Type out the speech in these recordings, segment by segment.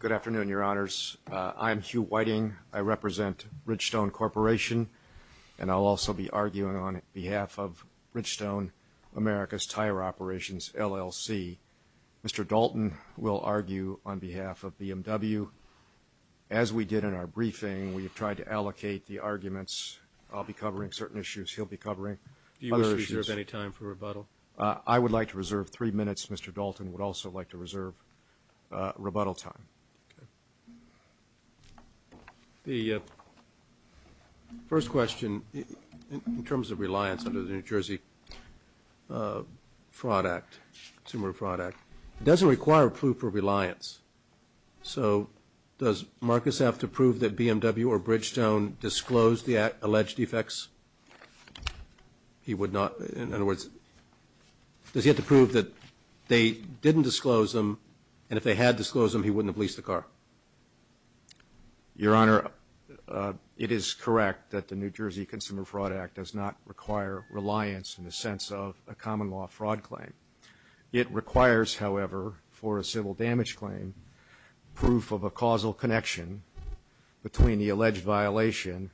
Good afternoon, your honors. I'm Hugh Whiting. I represent Ridgestone Corporation, and I'll also be arguing on behalf of Ridgestone America's Tire Operations, LLC. Mr. Dalton will argue on behalf of BMW. As we did in our briefing, we've tried to allocate the arguments. I'll be covering certain issues. He'll be covering other issues. Do you reserve any time for rebuttal? I would like to reserve three minutes. Mr. Dalton would also like to reserve rebuttal time. Okay. The first question, in terms of reliance under the New Jersey Fraud Act, Consumer Fraud Act, doesn't require proof for reliance. So does Marcus have to prove that BMW or Bridgestone disclosed the alleged defects? He would not, in other words, does he have to prove that they didn't disclose them, and if they had disclosed them, he wouldn't have leased the car? Your honor, it is correct that the New Jersey Consumer Fraud Act does not require reliance in the sense of a common law fraud claim. It requires, however, for a civil damage claim, proof of a causal connection between the alleged violation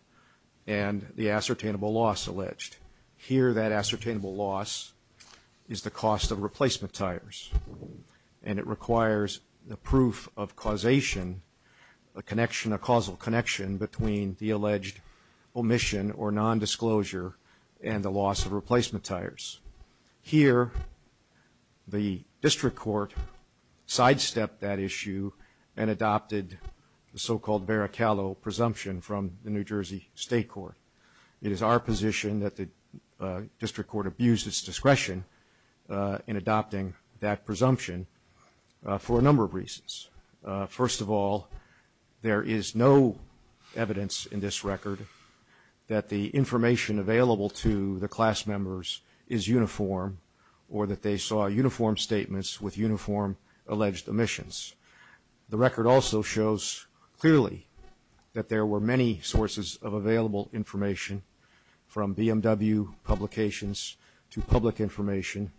and the ascertainable loss alleged. Here that ascertainable loss is the cost of replacement tires, and it requires the proof of causation, a connection, a causal connection between the alleged omission or nondisclosure and the loss of replacement tires. Here, the district court sidestepped that issue and adopted the so-called Barrichello presumption from the New Jersey State Court. It is our position that the district court abused its discretion in adopting that presumption for a number of reasons. First of all, there is no evidence in this record that the information available to the class members is uniform or that they saw uniform statements with uniform alleged omissions. The record also shows clearly that there were many sources of available information from BMW publications to public information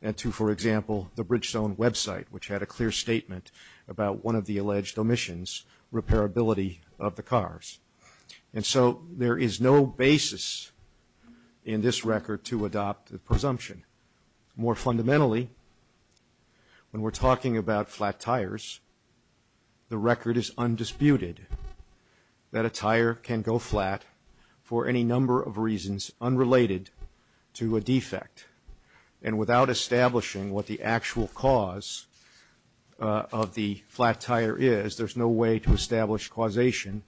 and to, for example, the Bridgestone website, which had a clear statement about one of the alleged omissions, repairability of the cars. And so there is no basis in this record to adopt the presumption. More fundamentally, when we're talking about flat tires, the record is undisputed that a tire can go flat for any number of reasons unrelated to a defect. And without establishing what the actual cause of the flat tire is, there's no way to establish causation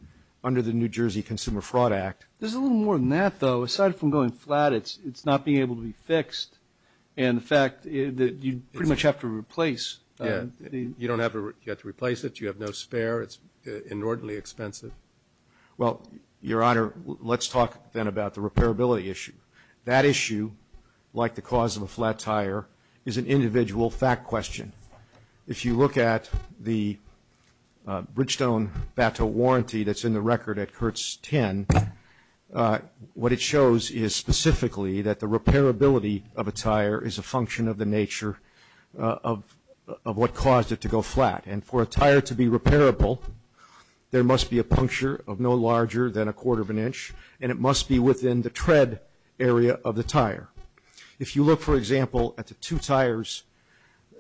under the New Jersey Consumer Fraud Act. There's a little more than that, though. Aside from going flat, it's not being able to be fixed. And the fact that you pretty much have to replace the ---- Yes. You don't have to replace it. You have no spare. It's inordinately expensive. Well, Your Honor, let's talk then about the repairability issue. That issue, like the flat tire, is an individual fact question. If you look at the Bridgestone BATO warranty that's in the record at Kurtz 10, what it shows is specifically that the repairability of a tire is a function of the nature of what caused it to go flat. And for a tire to be repairable, there must be a puncture of no larger than a quarter of an inch, and it must be within the tread area of the tire. If you look, for example, at the two tires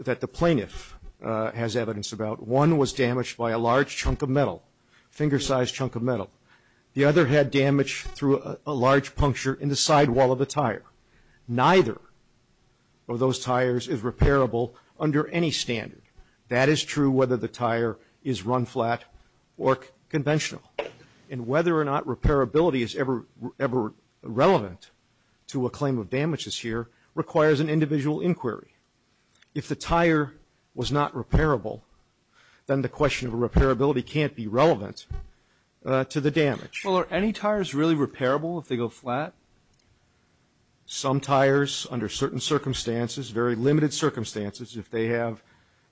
that the plaintiff has evidence about, one was damaged by a large chunk of metal, finger-sized chunk of metal. The other had damage through a large puncture in the sidewall of the tire. Neither of those tires is repairable under any standard. That is true whether the tire is run-flat or conventional. And whether or not repairability is ever relevant to a claim of damages here requires an individual inquiry. If the tire was not repairable, then the question of repairability can't be relevant to the damage. Well, are any tires really repairable if they go flat? Some tires, under certain circumstances, very limited circumstances, if they have,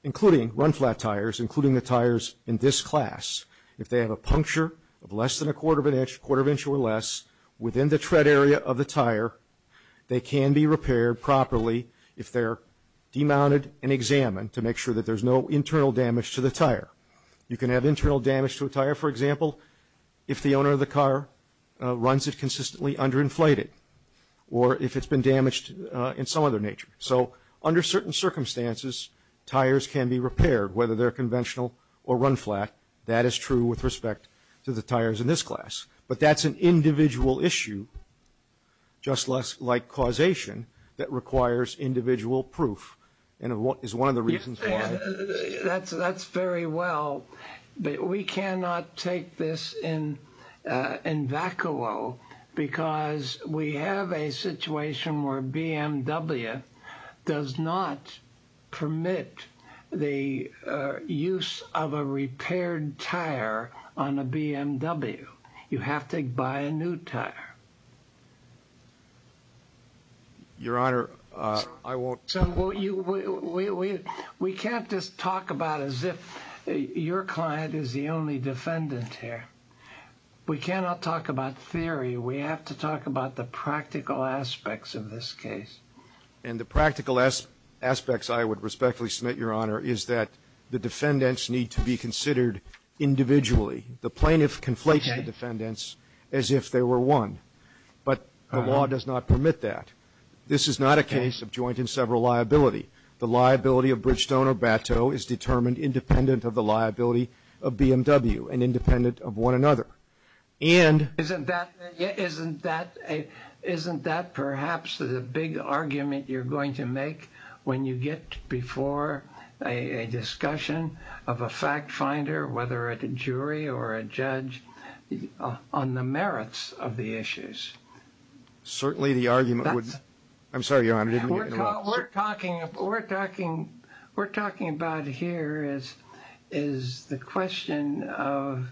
including run-flat tires, including the tires in this class, if they have a puncture of less than a quarter of an inch, quarter of an inch or less, within the tread area of the tire, they can be repaired properly if they're demounted and examined to make sure that there's no internal damage to the tire. You can have internal damage to a tire, for example, if the owner of the car runs it consistently underinflated, or if it's been damaged in some other nature. So, under certain circumstances, tires can be repaired, whether they're conventional or run-flat. That is true with respect to the tires in this class. But that's an individual issue, just like causation, that requires individual proof. And is one of the reasons why... That's very well, but we cannot take this in vacuo because we have a situation where BMW does not permit the use of a repaired tire on a BMW. You have to buy a new tire. Your Honor, I won't... We can't just talk about it as if your client is the only defendant here. We cannot talk about theory. We have to talk about the practical aspects of this case. And the practical aspects, I would respectfully submit, Your Honor, is that the defendants need to be considered individually. The plaintiff conflates the defendants as if they were one. But the law does not permit that. This is not a case of joint and several liability. The liability of Bridgestone or Bateau is determined independent of the liability of BMW and independent of one another. And... Isn't that perhaps the big argument you're going to make when you get before a discussion of a fact finder, whether it's a jury or a judge, on the merits of the issues? Certainly the argument would... I'm sorry, Your Honor, I didn't mean to get in the way. What we're talking about here is the question of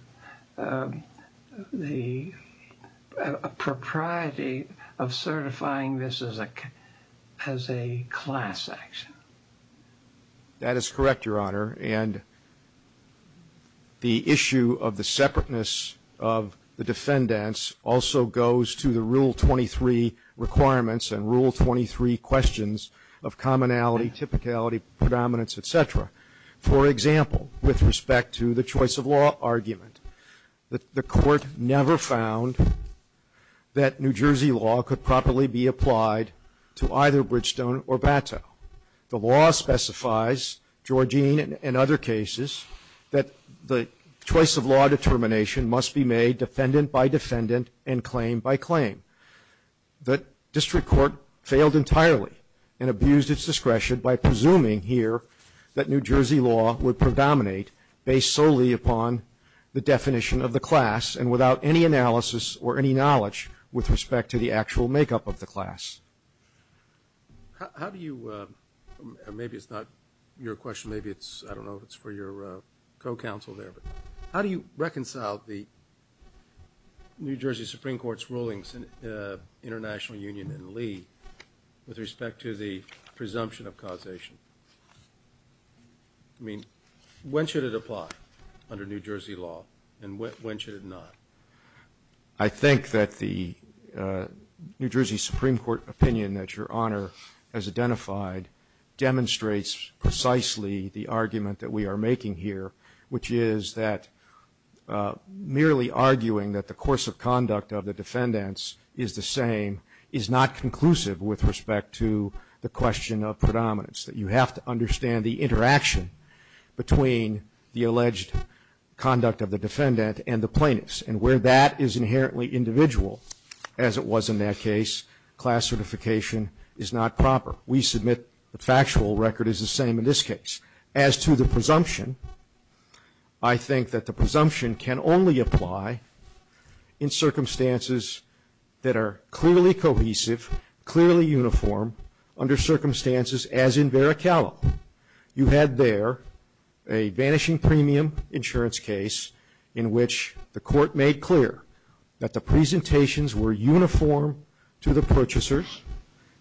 the propriety of certifying this as a class action. That is correct, Your Honor. And the issue of the separateness of the defendants also goes to the Rule 23 requirements and Rule 23 questions of commonality, typicality, predominance, et cetera. For example, with respect to the choice of law argument, the Court never found that New Jersey law could properly be applied to either Bridgestone or Bateau. The law specifies, Georgine and other cases, that the choice of law determination must be made defendant by defendant and claim by claim. The District Court failed entirely and abused its discretion by presuming here that New Jersey law would predominate based solely upon the definition of the class and without any analysis or any knowledge with respect to the actual makeup of the class. How do you... Maybe it's not your question, maybe it's, I don't know, it's for your co-counsel there, but how do you reconcile the New Jersey Supreme Court's rulings in the International Union and Lee with respect to the presumption of causation? I mean, when should it apply under New Jersey law and when should it not? I think that the New Jersey Supreme Court opinion that Your Honor has identified demonstrates precisely the argument that we are making here, which is that merely arguing that the course of conduct of the defendants is the same is not conclusive with respect to the question of predominance, that you have to understand the interaction between the alleged conduct of the defendant and the plaintiffs. And where that is inherently individual, as is the same in this case. As to the presumption, I think that the presumption can only apply in circumstances that are clearly cohesive, clearly uniform, under circumstances as in Vericalo. You had there a vanishing premium insurance case in which the court made clear that the presentations were uniform to the purchasers,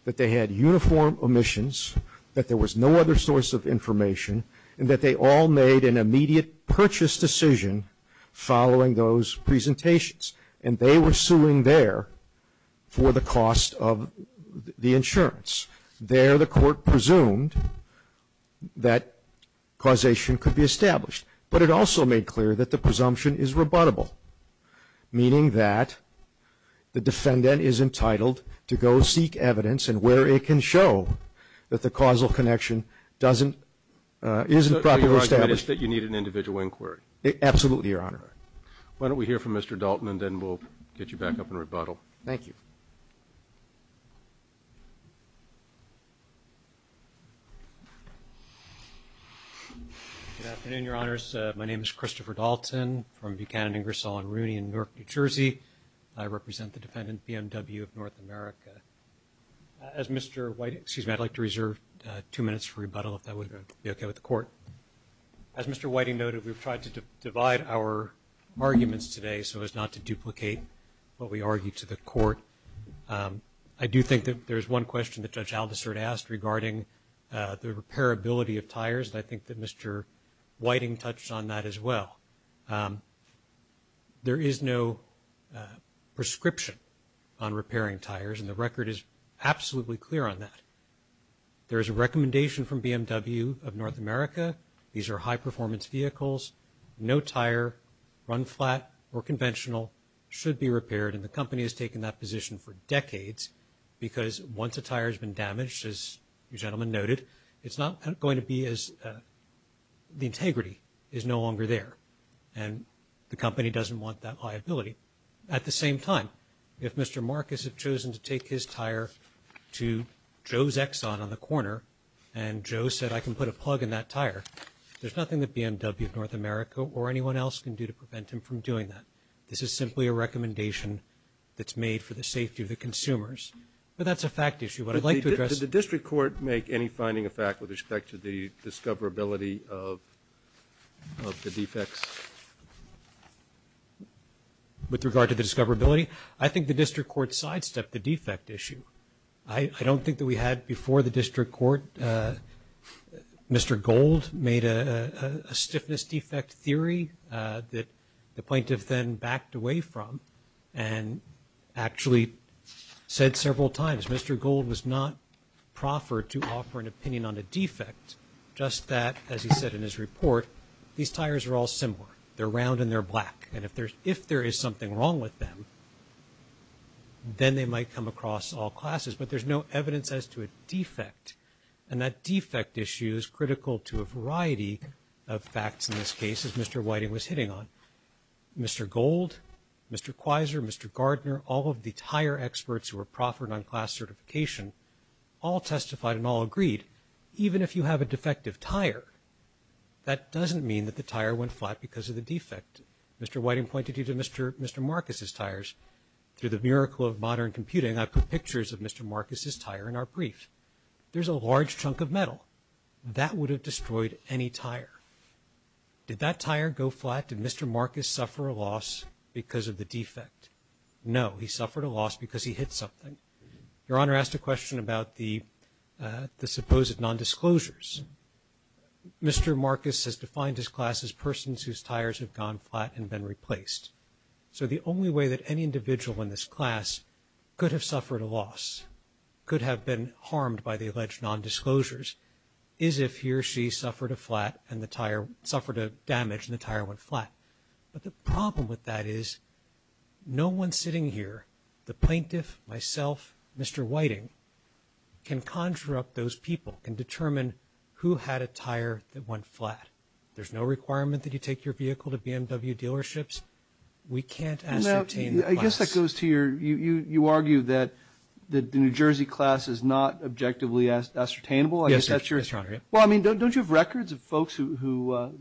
that they had uniform omissions, that there was no other source of information, and that they all made an immediate purchase decision following those presentations. And they were suing there for the cost of the insurance. There the court presumed that causation could be established. But it also made clear that the presumption is rebuttable, meaning that the defendant is entitled to go seek evidence, and where it can show that the causal connection doesn't, isn't properly established. So your argument is that you need an individual inquiry? Absolutely, Your Honor. All right. Why don't we hear from Mr. Dalton, and then we'll get you back up and rebuttal. Thank you. Good afternoon, Your Honors. My name is Christopher Dalton from Buchanan, Ingersoll, and Rooney in Newark, New Jersey. I represent the defendant, BMW of North America. As Mr. Whiting, excuse me, I'd like to reserve two minutes for rebuttal, if that would be okay with the court. As Mr. Whiting noted, we've tried to divide our arguments today so as not to duplicate what we argued to the court. I do think that there's one question that Judge Aldisert asked regarding the repairability of tires, and I think that Mr. Whiting touched on that as well. There is no prescription on repairing tires, and the record is absolutely clear on that. There is a recommendation from BMW of North America. These are high-performance vehicles. No tire, run flat or conventional, should be repaired, and the company has taken that position for decades because once a tire has been damaged, as you gentlemen noted, it's not going to be repaired. The integrity is no longer there, and the company doesn't want that liability. At the same time, if Mr. Marcus had chosen to take his tire to Joe's Exxon on the corner, and Joe said, I can put a plug in that tire, there's nothing that BMW of North America or anyone else can do to prevent him from doing that. This is simply a recommendation that's made for the safety of the consumers, but that's a fact issue. What I'd like to address – Did the district court make any finding of fact with respect to the discoverability of the defects? With regard to the discoverability, I think the district court sidestepped the defect issue. I don't think that we had before the district court. Mr. Gold made a stiffness defect theory that the plaintiff then backed away from and actually said several times, Mr. Gold was not proffered to offer an opinion on a defect, just that, as he said in his report, these tires are all similar. They're round and they're black, and if there is something wrong with them, then they might come across all classes, but there's no evidence as to a defect, and that defect issue is critical to a variety of facts in this case, as Mr. Whiting was hitting on. Mr. Gold, Mr. Quiser, Mr. Gardner, all of the tire experts who were proffered on class certification, all testified and all agreed, even if you have a defective tire, that doesn't mean that the tire went flat because of the defect. Mr. Whiting pointed to Mr. Marcus's tires. Through the miracle of modern computing, I put pictures of Mr. Marcus's tire in our brief. There's a large chunk of metal. That would have destroyed any tire. Did that tire go flat? Did Mr. Marcus suffer a loss because of the defect? No, he suffered a loss because he hit something. Your Honor asked a question about the supposed nondisclosures. Mr. Marcus has defined his class as persons whose tires have gone flat and been replaced, so the only way that any individual in this class could have suffered a loss, could have been harmed by the alleged nondisclosures, is if he or she suffered a flat and the tire, suffered a damage and the tire went flat. But the problem with that is, no one sitting here, the plaintiff, myself, Mr. Whiting, can conjure up those people and determine who had a tire that went flat. There's no requirement that you take your vehicle to BMW dealerships. We can't ascertain the class. I guess that goes to your, you argue that the New Jersey class is not objectively ascertainable? Yes, Your Honor. Well, I mean, don't you have records of folks who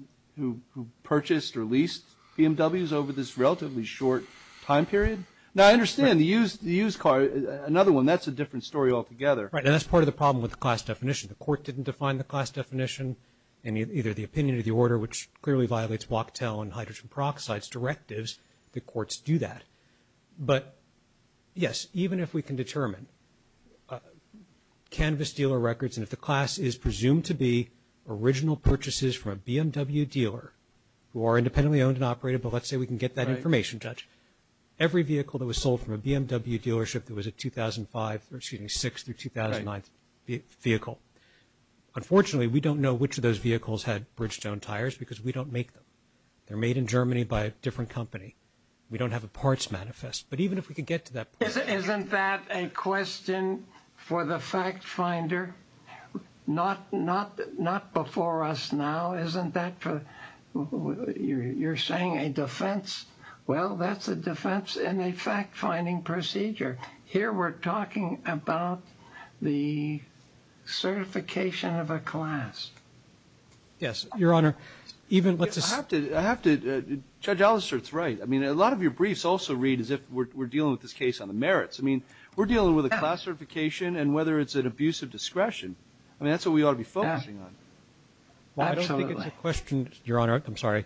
purchased or leased BMWs over this relatively short time period? Now, I understand, the used car, another one, that's a different story altogether. Right, and that's part of the problem with the class definition. The court didn't define the class definition in either the opinion or the order, which clearly violates Wachtell and hydrogen peroxide's directives, the courts do that. But, yes, even if we can determine canvas dealer records and if the class is presumed to be original purchases from a BMW dealer, who are independently owned and operated, but let's say we can get that information, Judge, every vehicle that was sold from a BMW dealership that was a 2005, or excuse me, 6 through 2009 vehicle. Unfortunately, we don't know which of those vehicles had They're made in Germany by a different company. We don't have a parts manifest, but even if we could get to that point. Isn't that a question for the fact finder? Not before us now, isn't that for, you're saying a defense? Well, that's a defense in a fact finding procedure. Here we're talking about the certification of a class. Yes, Your Honor. Even with this, I have to judge Alastair. It's right. I mean, a lot of your briefs also read as if we're dealing with this case on the merits. I mean, we're dealing with a class certification and whether it's an abuse of discretion. I mean, that's what we ought to be focusing on. Well, I don't think it's a question, Your Honor. I'm sorry.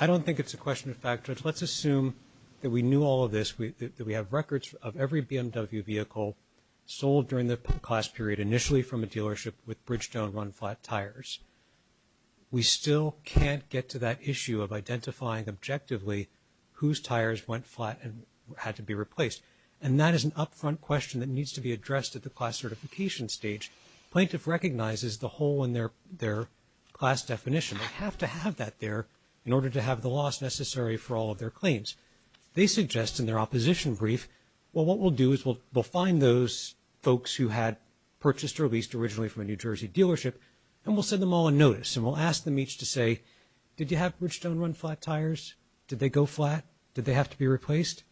I don't think it's a question of fact. Let's assume that we knew all of this. We have records of every BMW vehicle sold during the class period initially from a dealership with Bridgestone run flat tires. We still can't get to that issue of identifying objectively whose tires went flat and had to be replaced. And that is an upfront question that needs to be addressed at the class certification stage. Plaintiff recognizes the hole in their class definition. We have to have that there in order to have the loss necessary for all of their claims. They suggest in their opposition brief, well, what we'll do is we'll find those folks who had purchased or leased originally from a New Jersey dealership, and we'll send them all a notice. And we'll ask them each to say, did you have Bridgestone run flat tires? Did they go flat? Did they have to be replaced?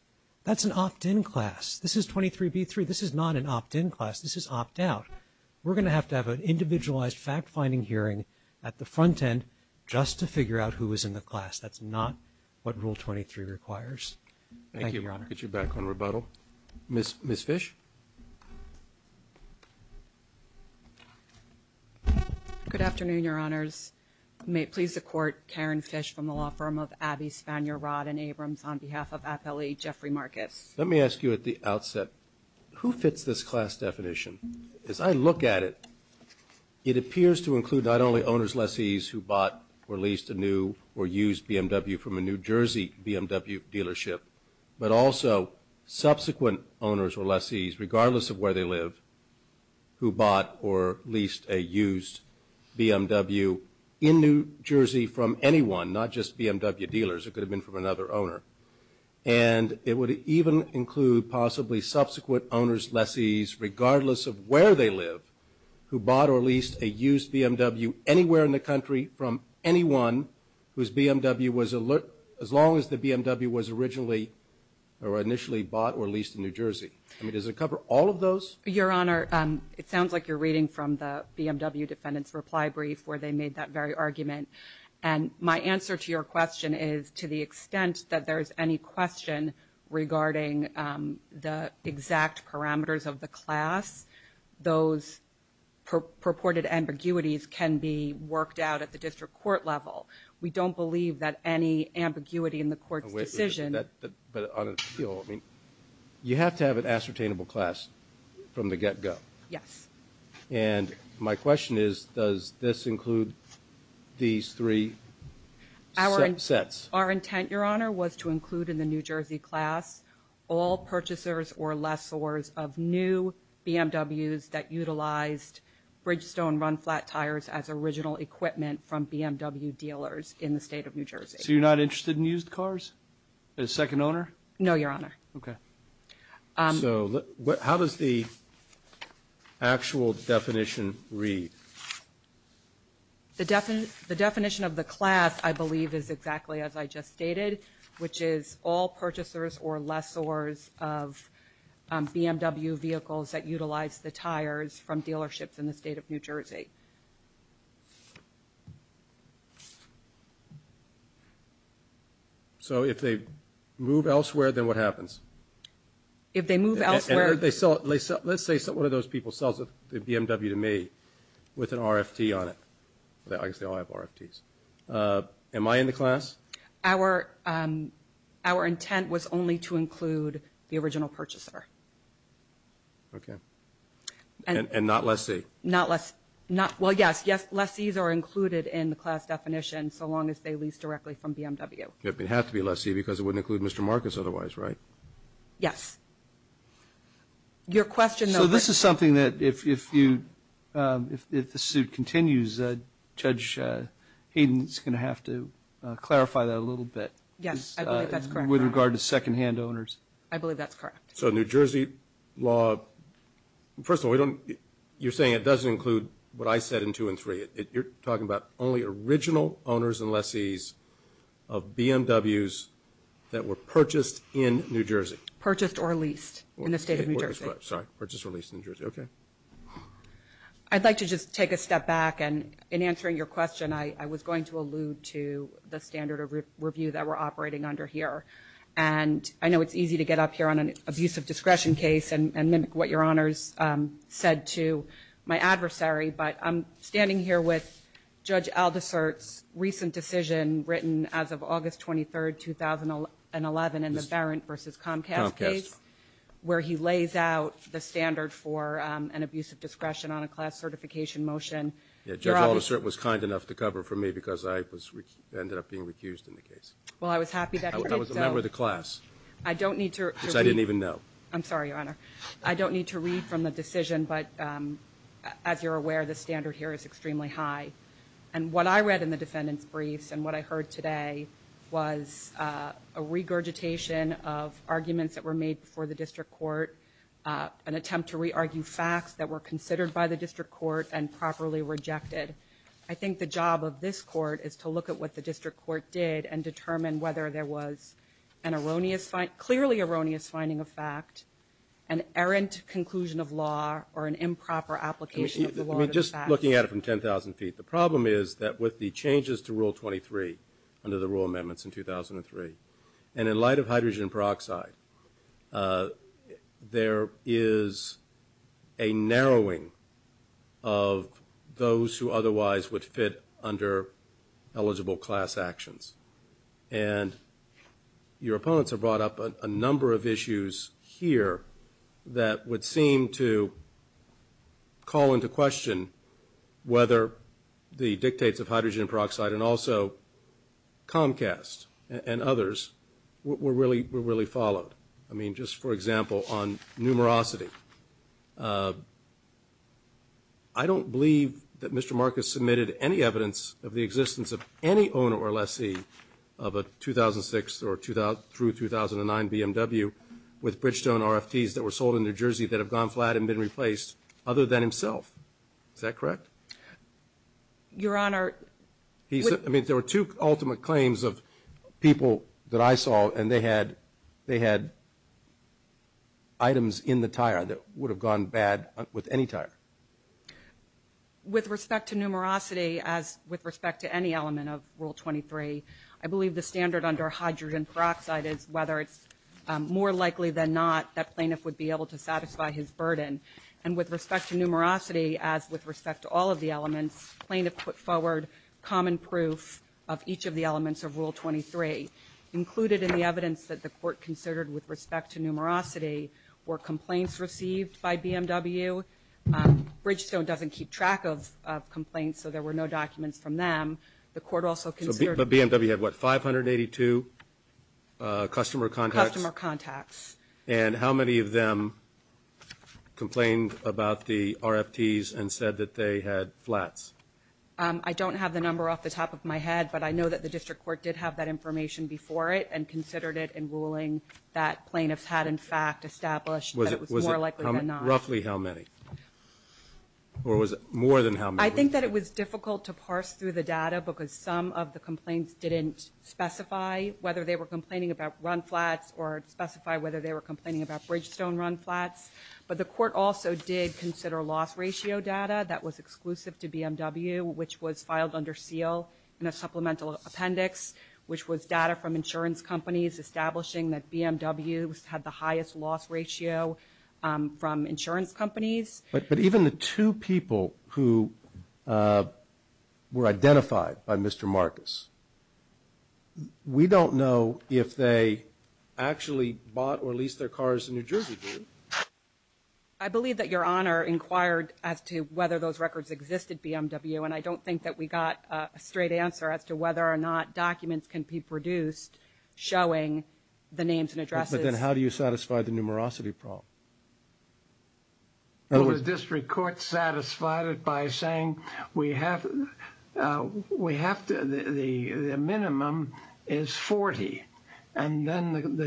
That's an opt-in class. This is 23B3. This is not an opt-in class. This is opt-out. We're going to have to have an individualized fact-finding hearing at the class that requires. Thank you, Your Honor. Thank you. We'll get you back on rebuttal. Ms. Fish? Good afternoon, Your Honors. May it please the Court, Karen Fish from the law firm of Abbey, Spanier, Rod, and Abrams on behalf of Appellee Jeffrey Marcus. Let me ask you at the outset, who fits this class definition? As I look at it, it appears to include not only owner's lessees who bought or leased a new or used BMW from a New Jersey BMW dealership, but also subsequent owners or lessees, regardless of where they live, who bought or leased a used BMW in New Jersey from anyone, not just BMW dealers. It could have been from another owner. And it would even include possibly subsequent owner's lessees, regardless of where they live, who bought or leased a used BMW anywhere in the country from anyone whose BMW was, as long as the BMW was originally or initially bought or leased in New Jersey. I mean, does it cover all of those? Your Honor, it sounds like you're reading from the BMW Defendant's Reply Brief, where they made that very argument. And my answer to your question is, to the extent that there is any question regarding the exact parameters of the class, those purported ambiguities can be worked out at the district court level. We don't believe that any ambiguity in the court's decision... But on appeal, I mean, you have to have an ascertainable class from the get-go. Yes. And my question is, does this include these three sets? Our intent, Your Honor, was to include in the New Jersey class all purchasers or lessors of new BMWs that utilized Bridgestone run-flat tires as original equipment from BMW dealers in the state of New Jersey. So you're not interested in used cars as second owner? No, Your Honor. Okay. So how does the actual definition read? The definition of the class, I believe, is exactly as I just stated, which is all purchasers or lessors of BMW vehicles that utilize the tires from dealerships in the state of New Jersey. So if they move elsewhere, then what happens? If they move elsewhere... And let's say one of those people sells a BMW to me with an RFT on it. I guess they all have RFTs. Am I in the class? Our intent was only to include the original purchaser. And not lessee? Not lessee. Well, yes. Yes, lessees are included in the class definition so long as they lease directly from BMW. It would have to be lessee because it wouldn't include Mr. Marcus otherwise, right? Yes. Your question, though... So this is something that if the suit continues, Judge Hayden is going to have to clarify that a little bit with regard to second-hand owners. I believe that's correct. So New Jersey law... First of all, you're saying it doesn't include what I said in two and three. You're talking about only original owners and lessees of BMWs that were purchased in New Jersey. Purchased or leased in the state of New Jersey. Purchased or leased in New Jersey, okay. I'd like to just take a step back, and in answering your question, I was going to allude to the standard of review that we're operating under here. And I know it's easy to get up here on an abuse of discretion case and mimic what Your Honor's said to my adversary, but I'm standing here with Judge Aldisert's recent decision written as of August 23, 2011 in the Barron v. Comcast case, where he lays out the standard for an abuse of discretion on a class certification motion. Judge Aldisert was kind enough to cover for me because I ended up being recused in the case. I was a member of the class, which I didn't even know. I'm sorry, Your Honor. I don't need to read from the decision, but as you're aware, the standard here is extremely high. And what I read in the defendant's briefs and what I heard today was a regurgitation of arguments that were made before the district court, an attempt to re-argue facts that were rejected. I think the job of this court is to look at what the district court did and determine whether there was an erroneous, clearly erroneous finding of fact, an errant conclusion of law or an improper application of the law. Just looking at it from 10,000 feet, the problem is that with the changes to Rule 23 under the rule amendments in 2003, and in light of hydrogen peroxide, there is a narrowing of those who otherwise would fit under eligible class actions. And your opponents have brought up a number of issues here that would seem to call into question whether the dictates of hydrogen peroxide and also Comcast and others were really followed. I mean, just for example, on numerosity. I don't believe that Mr. Marcus submitted any evidence of the existence of any owner or lessee of a 2006 through 2009 BMW with Bridgestone RFTs that were sold in New Jersey that have gone flat and been replaced other than himself. Is that correct? Your Honor, I mean, there were two ultimate claims of people that I saw and they had items in the tire that would have gone bad with any tire. With respect to numerosity, as with respect to any element of Rule 23, I believe the standard under hydrogen peroxide is whether it's more likely than not that plaintiff would be able to satisfy his burden. And with respect to numerosity, as with respect to all of the common proof of each of the elements of Rule 23, included in the evidence that the Court considered with respect to numerosity were complaints received by BMW. Bridgestone doesn't keep track of complaints, so there were no documents from them. The Court also considered So BMW had, what, 582 customer contacts? Customer contacts. And how many of them complained about the RFTs and said that they had flats? I don't have the number off the top of my head, but I know that the District Court did have that information before it and considered it in ruling that plaintiffs had in fact established that it was more likely than not. Roughly how many? Or was it more than how many? I think that it was difficult to parse through the data because some of the complaints didn't specify whether they were complaining about run flats or specify whether they were complaining about Bridgestone run flats. But the Court also did consider loss ratio data that was exclusive to BMW, which was filed under seal in a supplemental appendix, which was data from insurance companies establishing that BMWs had the highest loss ratio from insurance companies. But even the two people who were identified by Mr. Marcus, we don't know if they actually bought or leased their cars in New Jersey, do we? I believe that Your Honor inquired as to whether those records existed, BMW, and I don't think that we got a straight answer as to whether or not documents can be produced showing the names and addresses. But then how do you satisfy the numerosity problem? The District Court satisfied it by saying we have to, the minimum is 40. And then the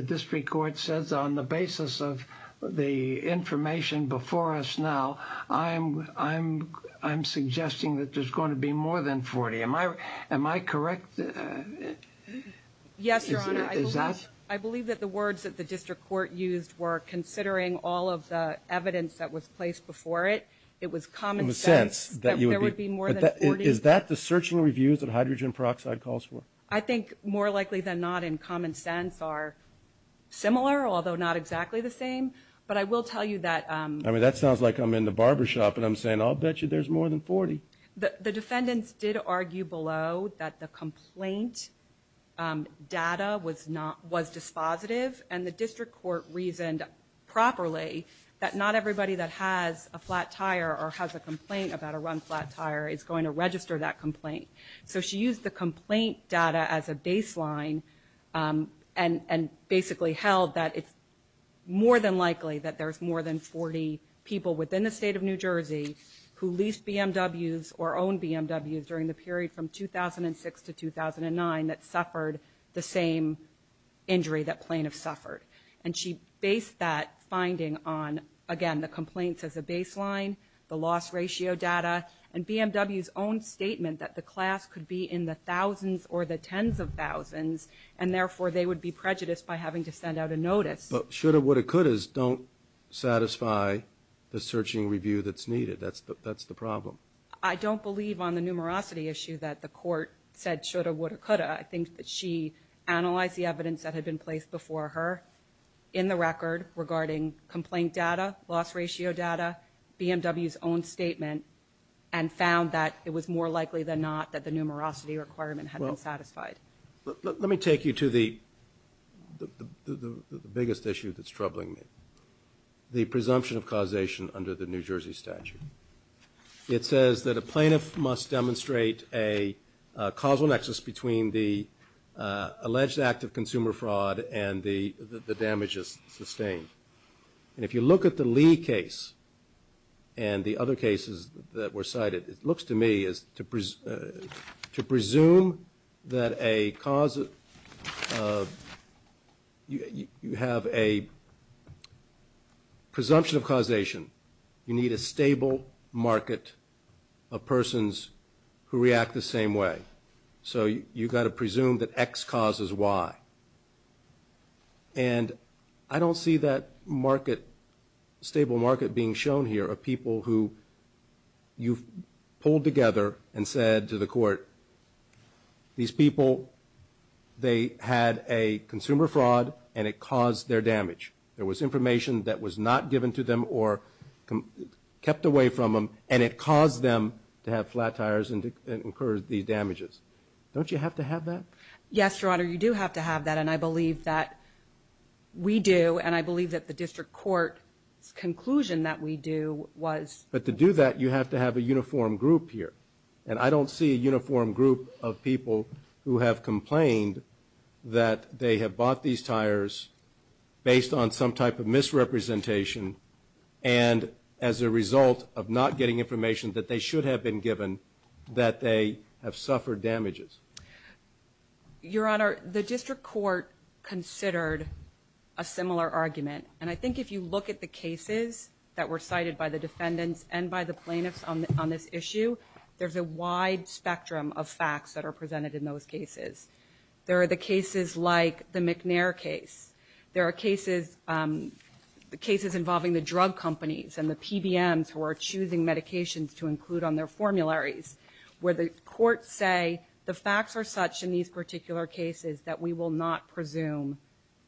information before us now, I'm suggesting that there's going to be more than 40. Am I correct? Yes, Your Honor. Is that? I believe that the words that the District Court used were considering all of the evidence that was placed before it. It was common sense that there would be more than 40. Is that the searching reviews that hydrogen peroxide calls for? I think more likely than not in common sense are similar, although not exactly the same. But I will tell you that... I mean, that sounds like I'm in the barbershop and I'm saying, I'll bet you there's more than 40. The defendants did argue below that the complaint data was dispositive and the District Court reasoned properly that not everybody that has a flat tire or has a complaint about a run flat tire is going to register that complaint. So she used the complaint data as a baseline and basically held that it's more than likely that there's more than 40 people within the State of New Jersey who leased BMWs or owned BMWs during the period from 2006 to 2009 that suffered the same injury that Plaintiff suffered. And she based that finding on, again, the complaints as a baseline, the loss ratio data, and BMW's own statement that the class could be in the thousands or the tens of thousands, and therefore they would be prejudiced by having to send out a notice. But shoulda, woulda, couldas don't satisfy the searching review that's needed. That's the problem. I don't believe on the numerosity issue that the Court said shoulda, woulda, coulda. I think that she analyzed the evidence that had been placed before her in the record regarding complaint data, loss ratio data, BMW's own statement, and found that it was more likely than not that the numerosity requirement had been satisfied. Well, let me take you to the biggest issue that's troubling me, the presumption of causation under the New Jersey statute. It says that a plaintiff must demonstrate a causal nexus between the alleged act of consumer fraud and the damages sustained. And if you look at the Lee case and the other cases that were cited, it looks to me as to presume that a cause of, you have a presumption of causation. You need a stable market of persons who react the same way. So you gotta presume that X causes Y. And I don't see that market being shown here of people who you've pulled together and said to the Court, these people, they had a consumer fraud and it caused their damage. There was information that was not given to them or kept away from them, and it caused them to have flat tires and incur these damages. Don't you have to have that? Yes, Your Honor, you do have to have that, and I believe that we do, and I believe that the District Court's conclusion that we do was... But to do that, you have to have a uniform group here. And I don't see a uniform group of people who have complained that they have bought these tires based on some type of misrepresentation and as a result of not getting information that they should have been given, that they have suffered damages. Your Honor, the District Court considered a similar argument, and I think if you look at the cases that were cited by the defendants and by the plaintiffs on this issue, there's a wide spectrum of facts that are presented in those cases. There are the cases like the McNair case. There are cases involving the drug companies and the PBMs who are choosing medications to include on their formularies, where the courts say, the facts are such in these particular cases that we will not presume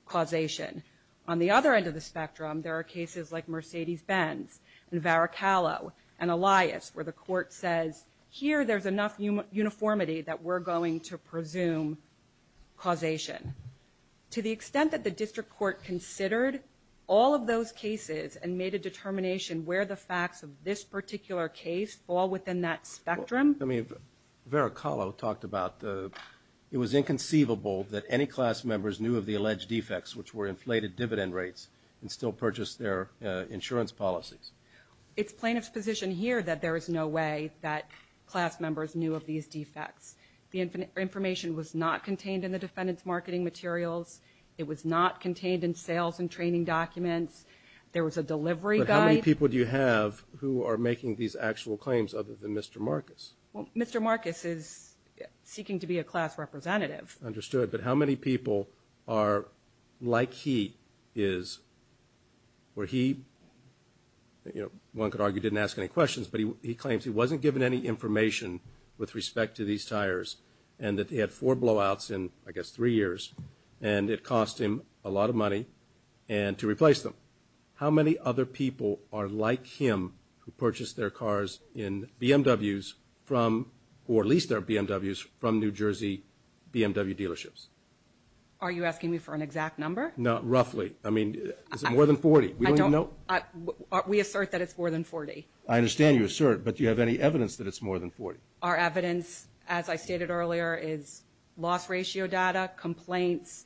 causation. On the other end of the spectrum, there are cases like Mercedes-Benz and Varicalo and Elias, where the court says, here there's enough uniformity that we're going to presume causation. To the extent that the District Court considered all of those cases and made a determination where the facts of this particular case fall within that spectrum. I mean, Varicalo talked about, it was inconceivable that any class members knew of the alleged defects, which were inflated dividend rates and still purchased their insurance policies. It's plaintiff's position here that there is no way that class members knew of these defects. The information was not contained in the defendant's marketing materials. It was not contained in sales and training documents. There was a delivery guide. But how many people do you have who are making these actual claims other than Mr. Marcus? Mr. Marcus is seeking to be a class representative. Understood. But how many people are like he is, where he, one could argue, didn't ask any questions, but he claims he wasn't given any information with respect to these tires and that they had four blowouts in, I guess, three years, and it cost him a lot of money and to replace them. How many other people are like him who purchased their cars in BMWs from, or leased their BMWs from New Jersey BMW dealerships? Are you asking me for an exact number? No, roughly. I mean, is it more than 40? We don't even know. We assert that it's more than 40. I understand you assert, but do you have any evidence that it's more than 40? Our evidence, as I stated earlier, is loss ratio data, complaints,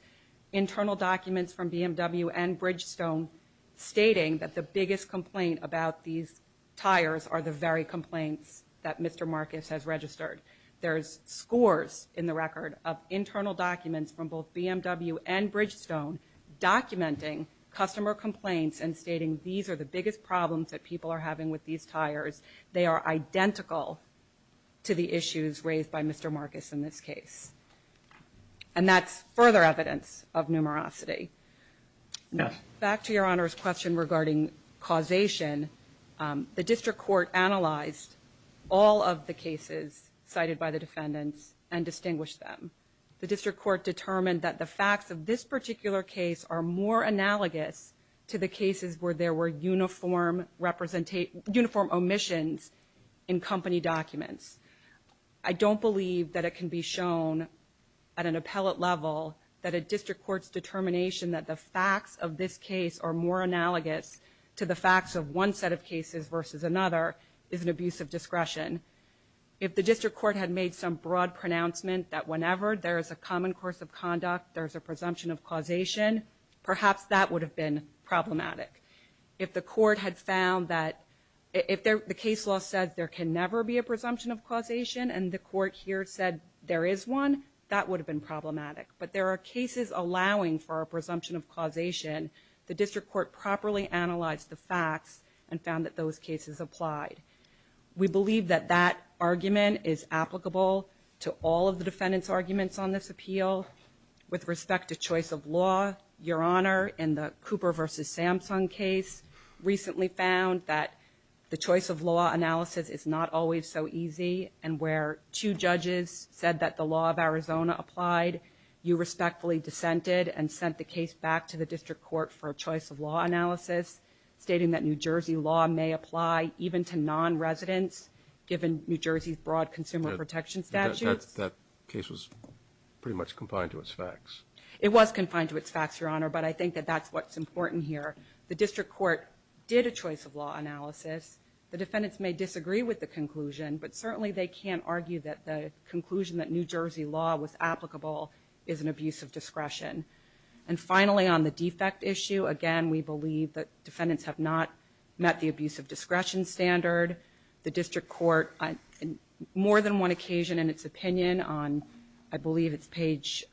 internal documents from BMW and Bridgestone stating that the biggest complaint about these tires are the very complaints that Mr. Marcus has registered. There's scores in the record of internal documents from both BMW and Bridgestone documenting customer complaints and stating these are the biggest problems that people are having with these tires. They are identical to the issues raised by Mr. Marcus in this case. And that's further evidence of numerosity. Back to Your Honor's question regarding causation, the district court analyzed all of the cases cited by the defendants and distinguished them. The district court determined that the facts of this particular case are more analogous to the cases where there were uniform omissions in company documents. I don't believe that it can be shown at an appellate level that a district court's determination that the facts of this case are more analogous to the facts of one set of cases versus another is an abuse of discretion. If the district court had made some broad pronouncement that whenever there is a common course of conduct, there is a presumption of causation, perhaps that would have been problematic. If the case law said there can never be a presumption of causation and the court here said there is one, that would have been problematic. But there are cases allowing for a presumption of causation. The district court properly analyzed the facts and found that those cases applied. We believe that that argument is applicable to all of the defendants' arguments on this appeal. With respect to choice of law, Your Honor, in the Cooper v. Samsung case, recently we found that the choice of law analysis is not always so easy and where two judges said that the law of Arizona applied, you respectfully dissented and sent the case back to the district court for a choice of law analysis stating that New Jersey law may apply even to non-residents given New Jersey's broad consumer protection statutes. That case was pretty much confined to its facts. It was confined to its facts, Your Honor, but I think that that's what's important here. The district court did a choice of law analysis. The defendants may disagree with the conclusion, but certainly they can't argue that the conclusion that New Jersey law was applicable is an abuse of discretion. And finally, on the defect issue, again, we believe that defendants have not met the abuse of discretion standard. The district court on more than one occasion in its opinion on I believe it's page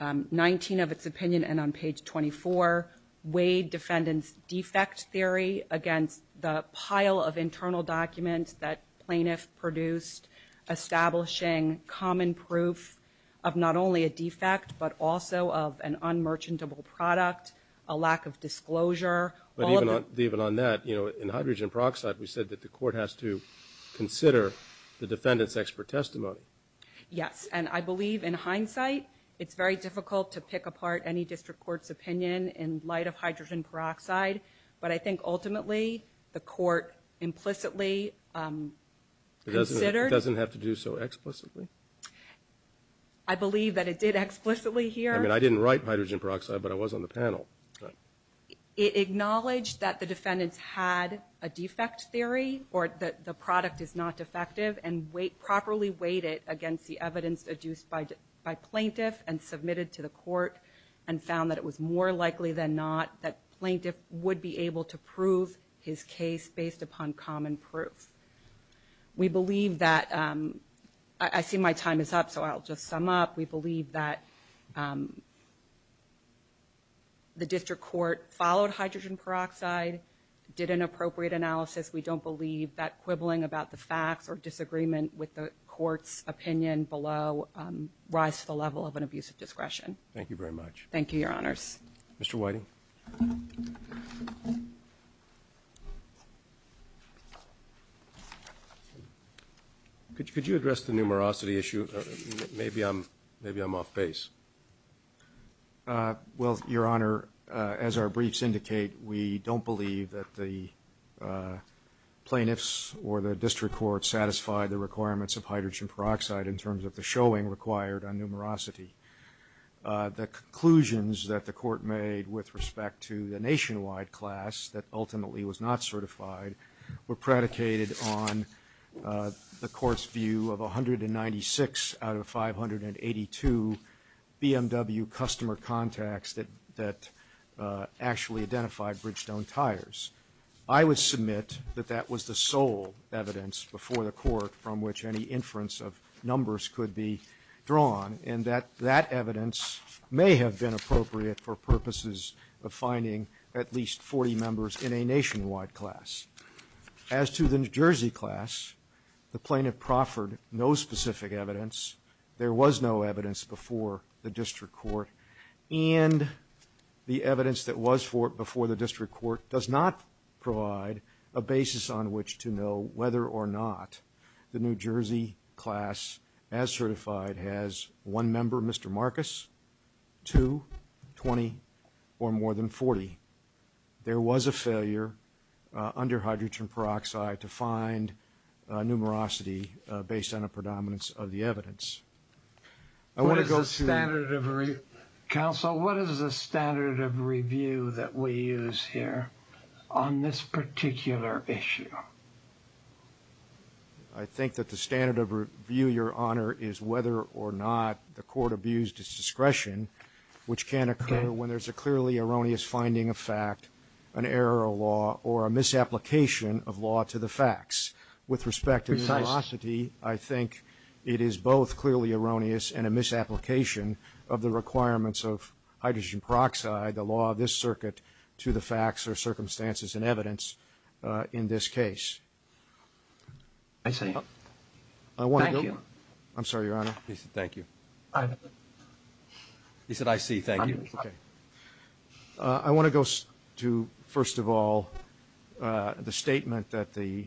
19 of its opinion and on page 24 weighed defendants' defect theory against the pile of internal documents that plaintiff produced establishing common proof of not only a defect, but also of an unmerchantable product, a lack of disclosure, all of the But even on that, you know, in hydrogen peroxide, we said that the court has to consider the Yes, and I believe in hindsight it's very difficult to pick apart any district court's opinion in light of hydrogen peroxide, but I think ultimately the court implicitly considered It doesn't have to do so explicitly? I believe that it did explicitly here I mean, I didn't write hydrogen peroxide, but I was on the panel It acknowledged that the defendants had a defect theory or that the product is not defective and properly weighed it against the evidence adduced by plaintiff and submitted to the court and found that it was more likely than not that plaintiff would be able to prove his case based upon common proof. We believe that I see my time is up, so I'll just sum up. We believe that the district court followed hydrogen peroxide, did an appropriate analysis. We don't believe that quibbling about the facts or disagreement with the court's opinion below rise to the level of an abuse of discretion. Thank you very much. Thank you, Your Honors. Mr. Whiting. Could you address the numerosity issue? Maybe I'm off base. Well, Your Honor, as our briefs indicate, we don't believe that the plaintiffs or the district court satisfied the requirements of hydrogen peroxide in terms of the showing required on numerosity. The conclusions that the court made with respect to the nationwide class that ultimately was not certified were predicated on the court's view of 196 out of 582 BMW customer contacts that actually identified Bridgestone tires. I would submit that that was the sole evidence before the court from which any inference of numbers could be drawn, and that that evidence may have been appropriate for purposes of finding at least 40 members in a nationwide class. As to the New Jersey class, the plaintiff proffered no specific evidence. There was no evidence before the district court, and the evidence that was before the district court does not provide a basis on which to know whether or not the New Jersey class, as certified, has one member, Mr. Marcus, two, 20, or more than 40. There was a failure under hydrogen peroxide to find numerosity based on a predominance of the evidence. What is the standard of review that we use here on this particular issue? I think that the standard of review, Your Honor, is whether or not the court abused its discretion, which can occur when there's a clearly erroneous finding of fact, an error of law, or a misapplication of law to the facts. With respect to numerosity, I think it is both clearly erroneous and a misapplication of the requirements of hydrogen peroxide, the law of this circuit, to the facts or circumstances and evidence in this case. I see. Thank you. I'm sorry, Your Honor. He said, I see. Thank you. I want to go to, first of all, the statement that the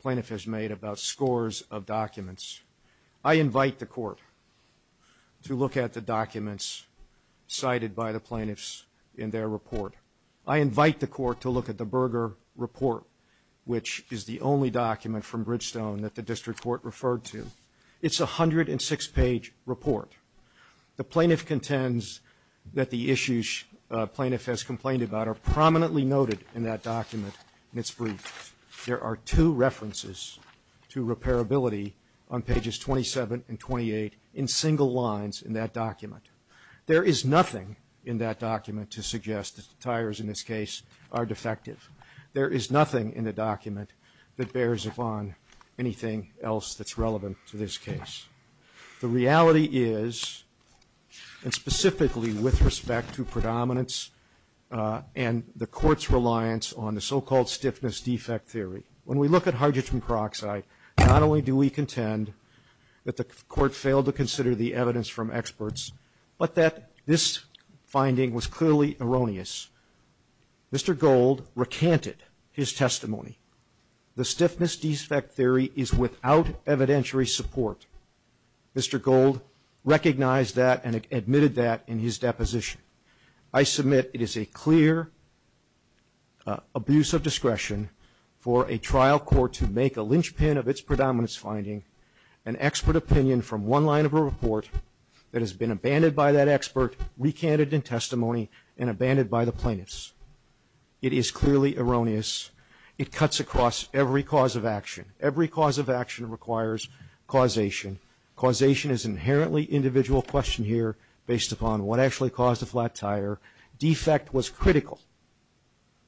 plaintiff has made about scores of documents. I invite the court to look at the documents cited by the plaintiffs in their report. I invite the court to look at the Berger report, which is the only document from Bridgestone that the district court referred to. It's a 106-page report. The plaintiff contends that the issues a plaintiff has complained about are prominently noted in that document in its brief. There are two references to repairability on pages 27 and 28 in single lines in that document. There is nothing in that document to suggest that the tires in this case are defective. There is nothing in the document that bears upon anything else that's relevant to this case. The reality is, and specifically with respect to predominance and the court's reliance on the so-called stiffness defect theory, when we look at hydrogen peroxide, not only do we contend that the court failed to consider the evidence from experts, but that this finding was clearly erroneous. Mr. Gold recanted his testimony. The stiffness defect theory is without evidentiary support. Mr. Gold recognized that and admitted that in his deposition. I submit it is a clear abuse of discretion for a trial court to make a linchpin of its predominance finding, an expert opinion from one line of a report that has been abandoned by that expert, recanted in testimony, and abandoned by the plaintiffs. It is clearly causation. Causation is an inherently individual question here based upon what actually caused a flat tire. Defect was critical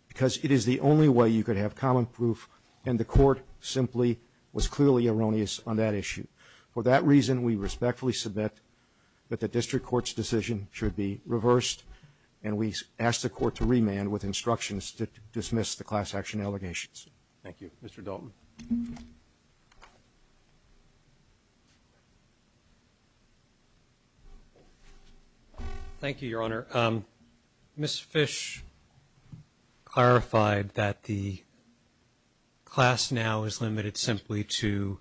because it is the only way you could have common proof, and the court simply was clearly erroneous on that issue. For that reason, we respectfully submit that the district court's decision should be reversed, and we ask the court to remand with instructions to dismiss the class action allegations. Thank you. Mr. Dalton. Thank you, Your Honor. Ms. Fish clarified that the class now is limited simply to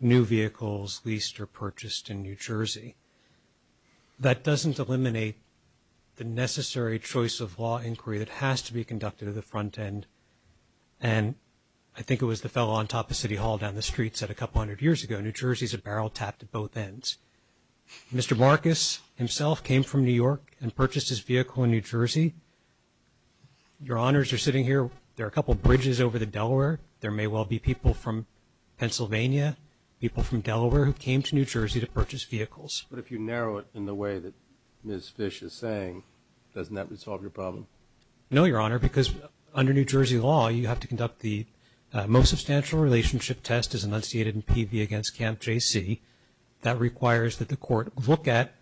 new vehicles leased or purchased in New Jersey. That doesn't eliminate the necessary choice of law inquiry that has to be conducted at the front end, and I think it was the fellow on top of City Hall down the street said a couple hundred years ago, New Jersey's a barrel tapped at both ends. Mr. Marcus himself came from New York and purchased his vehicle in New Jersey. Your Honors, you're sitting here. There are a couple bridges over the Delaware. There may well be people from Pennsylvania, people from Delaware who came to New Jersey to purchase vehicles. But if you narrow it in the way that Ms. Fish is saying, doesn't that resolve your problem? No, Your Honor, because under New Jersey law, you have to conduct the most substantial relationship test as enunciated in PV against Camp JC. That requires that the court look at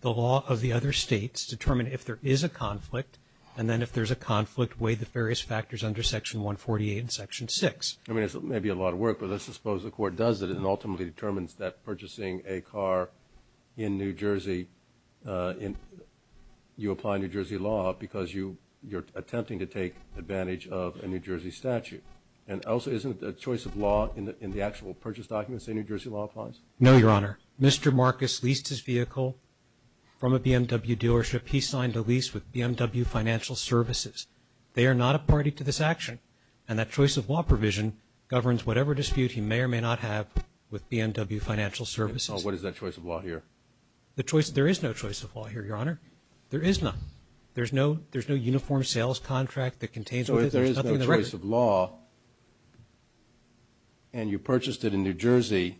the law of the other states, determine if there is a conflict, and then if there's a conflict, weigh the various factors under Section 148 and Section 6. I mean, it may be a lot of work, but let's suppose the court does it and ultimately determines that purchasing a car in New Jersey, you apply New Jersey law because you're attempting to take advantage of a New Jersey statute. And also, isn't the choice of law in the actual purchase documents that New Jersey law applies? No, Your Honor. Mr. Marcus leased his vehicle from a BMW dealership. He signed a lease with BMW Financial Services. They are not a party to this action. And that choice of law provision governs whatever dispute he may or may not have with BMW Financial Services. So what is that choice of law here? The choice, there is no choice of law here, Your Honor. There is none. There's no uniform sales contract that contains... So if there is no choice of law, and you purchased it in New Jersey,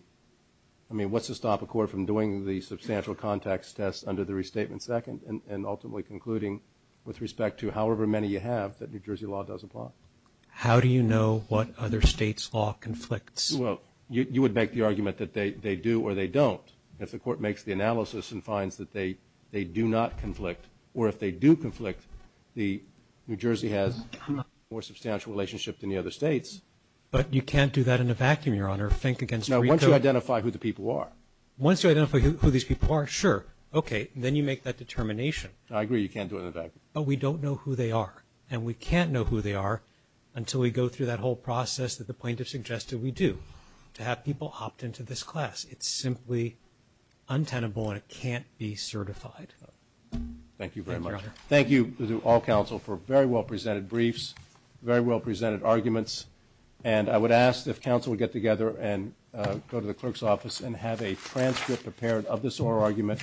I mean, what's to stop a court from doing the substantial context test under the Restatement Second and ultimately concluding with respect to however many you have that New Jersey law does apply? How do you know what other states' law conflicts? Well, you would make the argument that they do or they don't. If the court makes the analysis and finds that they do not conflict, or if they do conflict, New Jersey has a more substantial relationship than the other states. But you can't do that in a vacuum, Your Honor. Think against... Now, once you identify who the people are. Once you identify who these people are, sure, okay, then you make that determination. I agree, you can't do it in a vacuum. But we don't know who they are, and we can't know who they are until we go through that whole process that the plaintiff suggested we do, to have people opt into this class. It's simply untenable and it can't be certified. Thank you very much. Thank you, Your Honor. Thank you to all counsel for very well presented briefs, very well presented arguments. And I would ask if counsel would get together and go to the clerk's office and have a transcript prepared of this oral argument,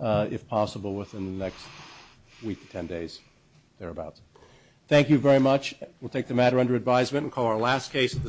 if possible, within the next week to ten days, thereabouts. Thank you very much. We'll take the matter under advisement and call our last case at the...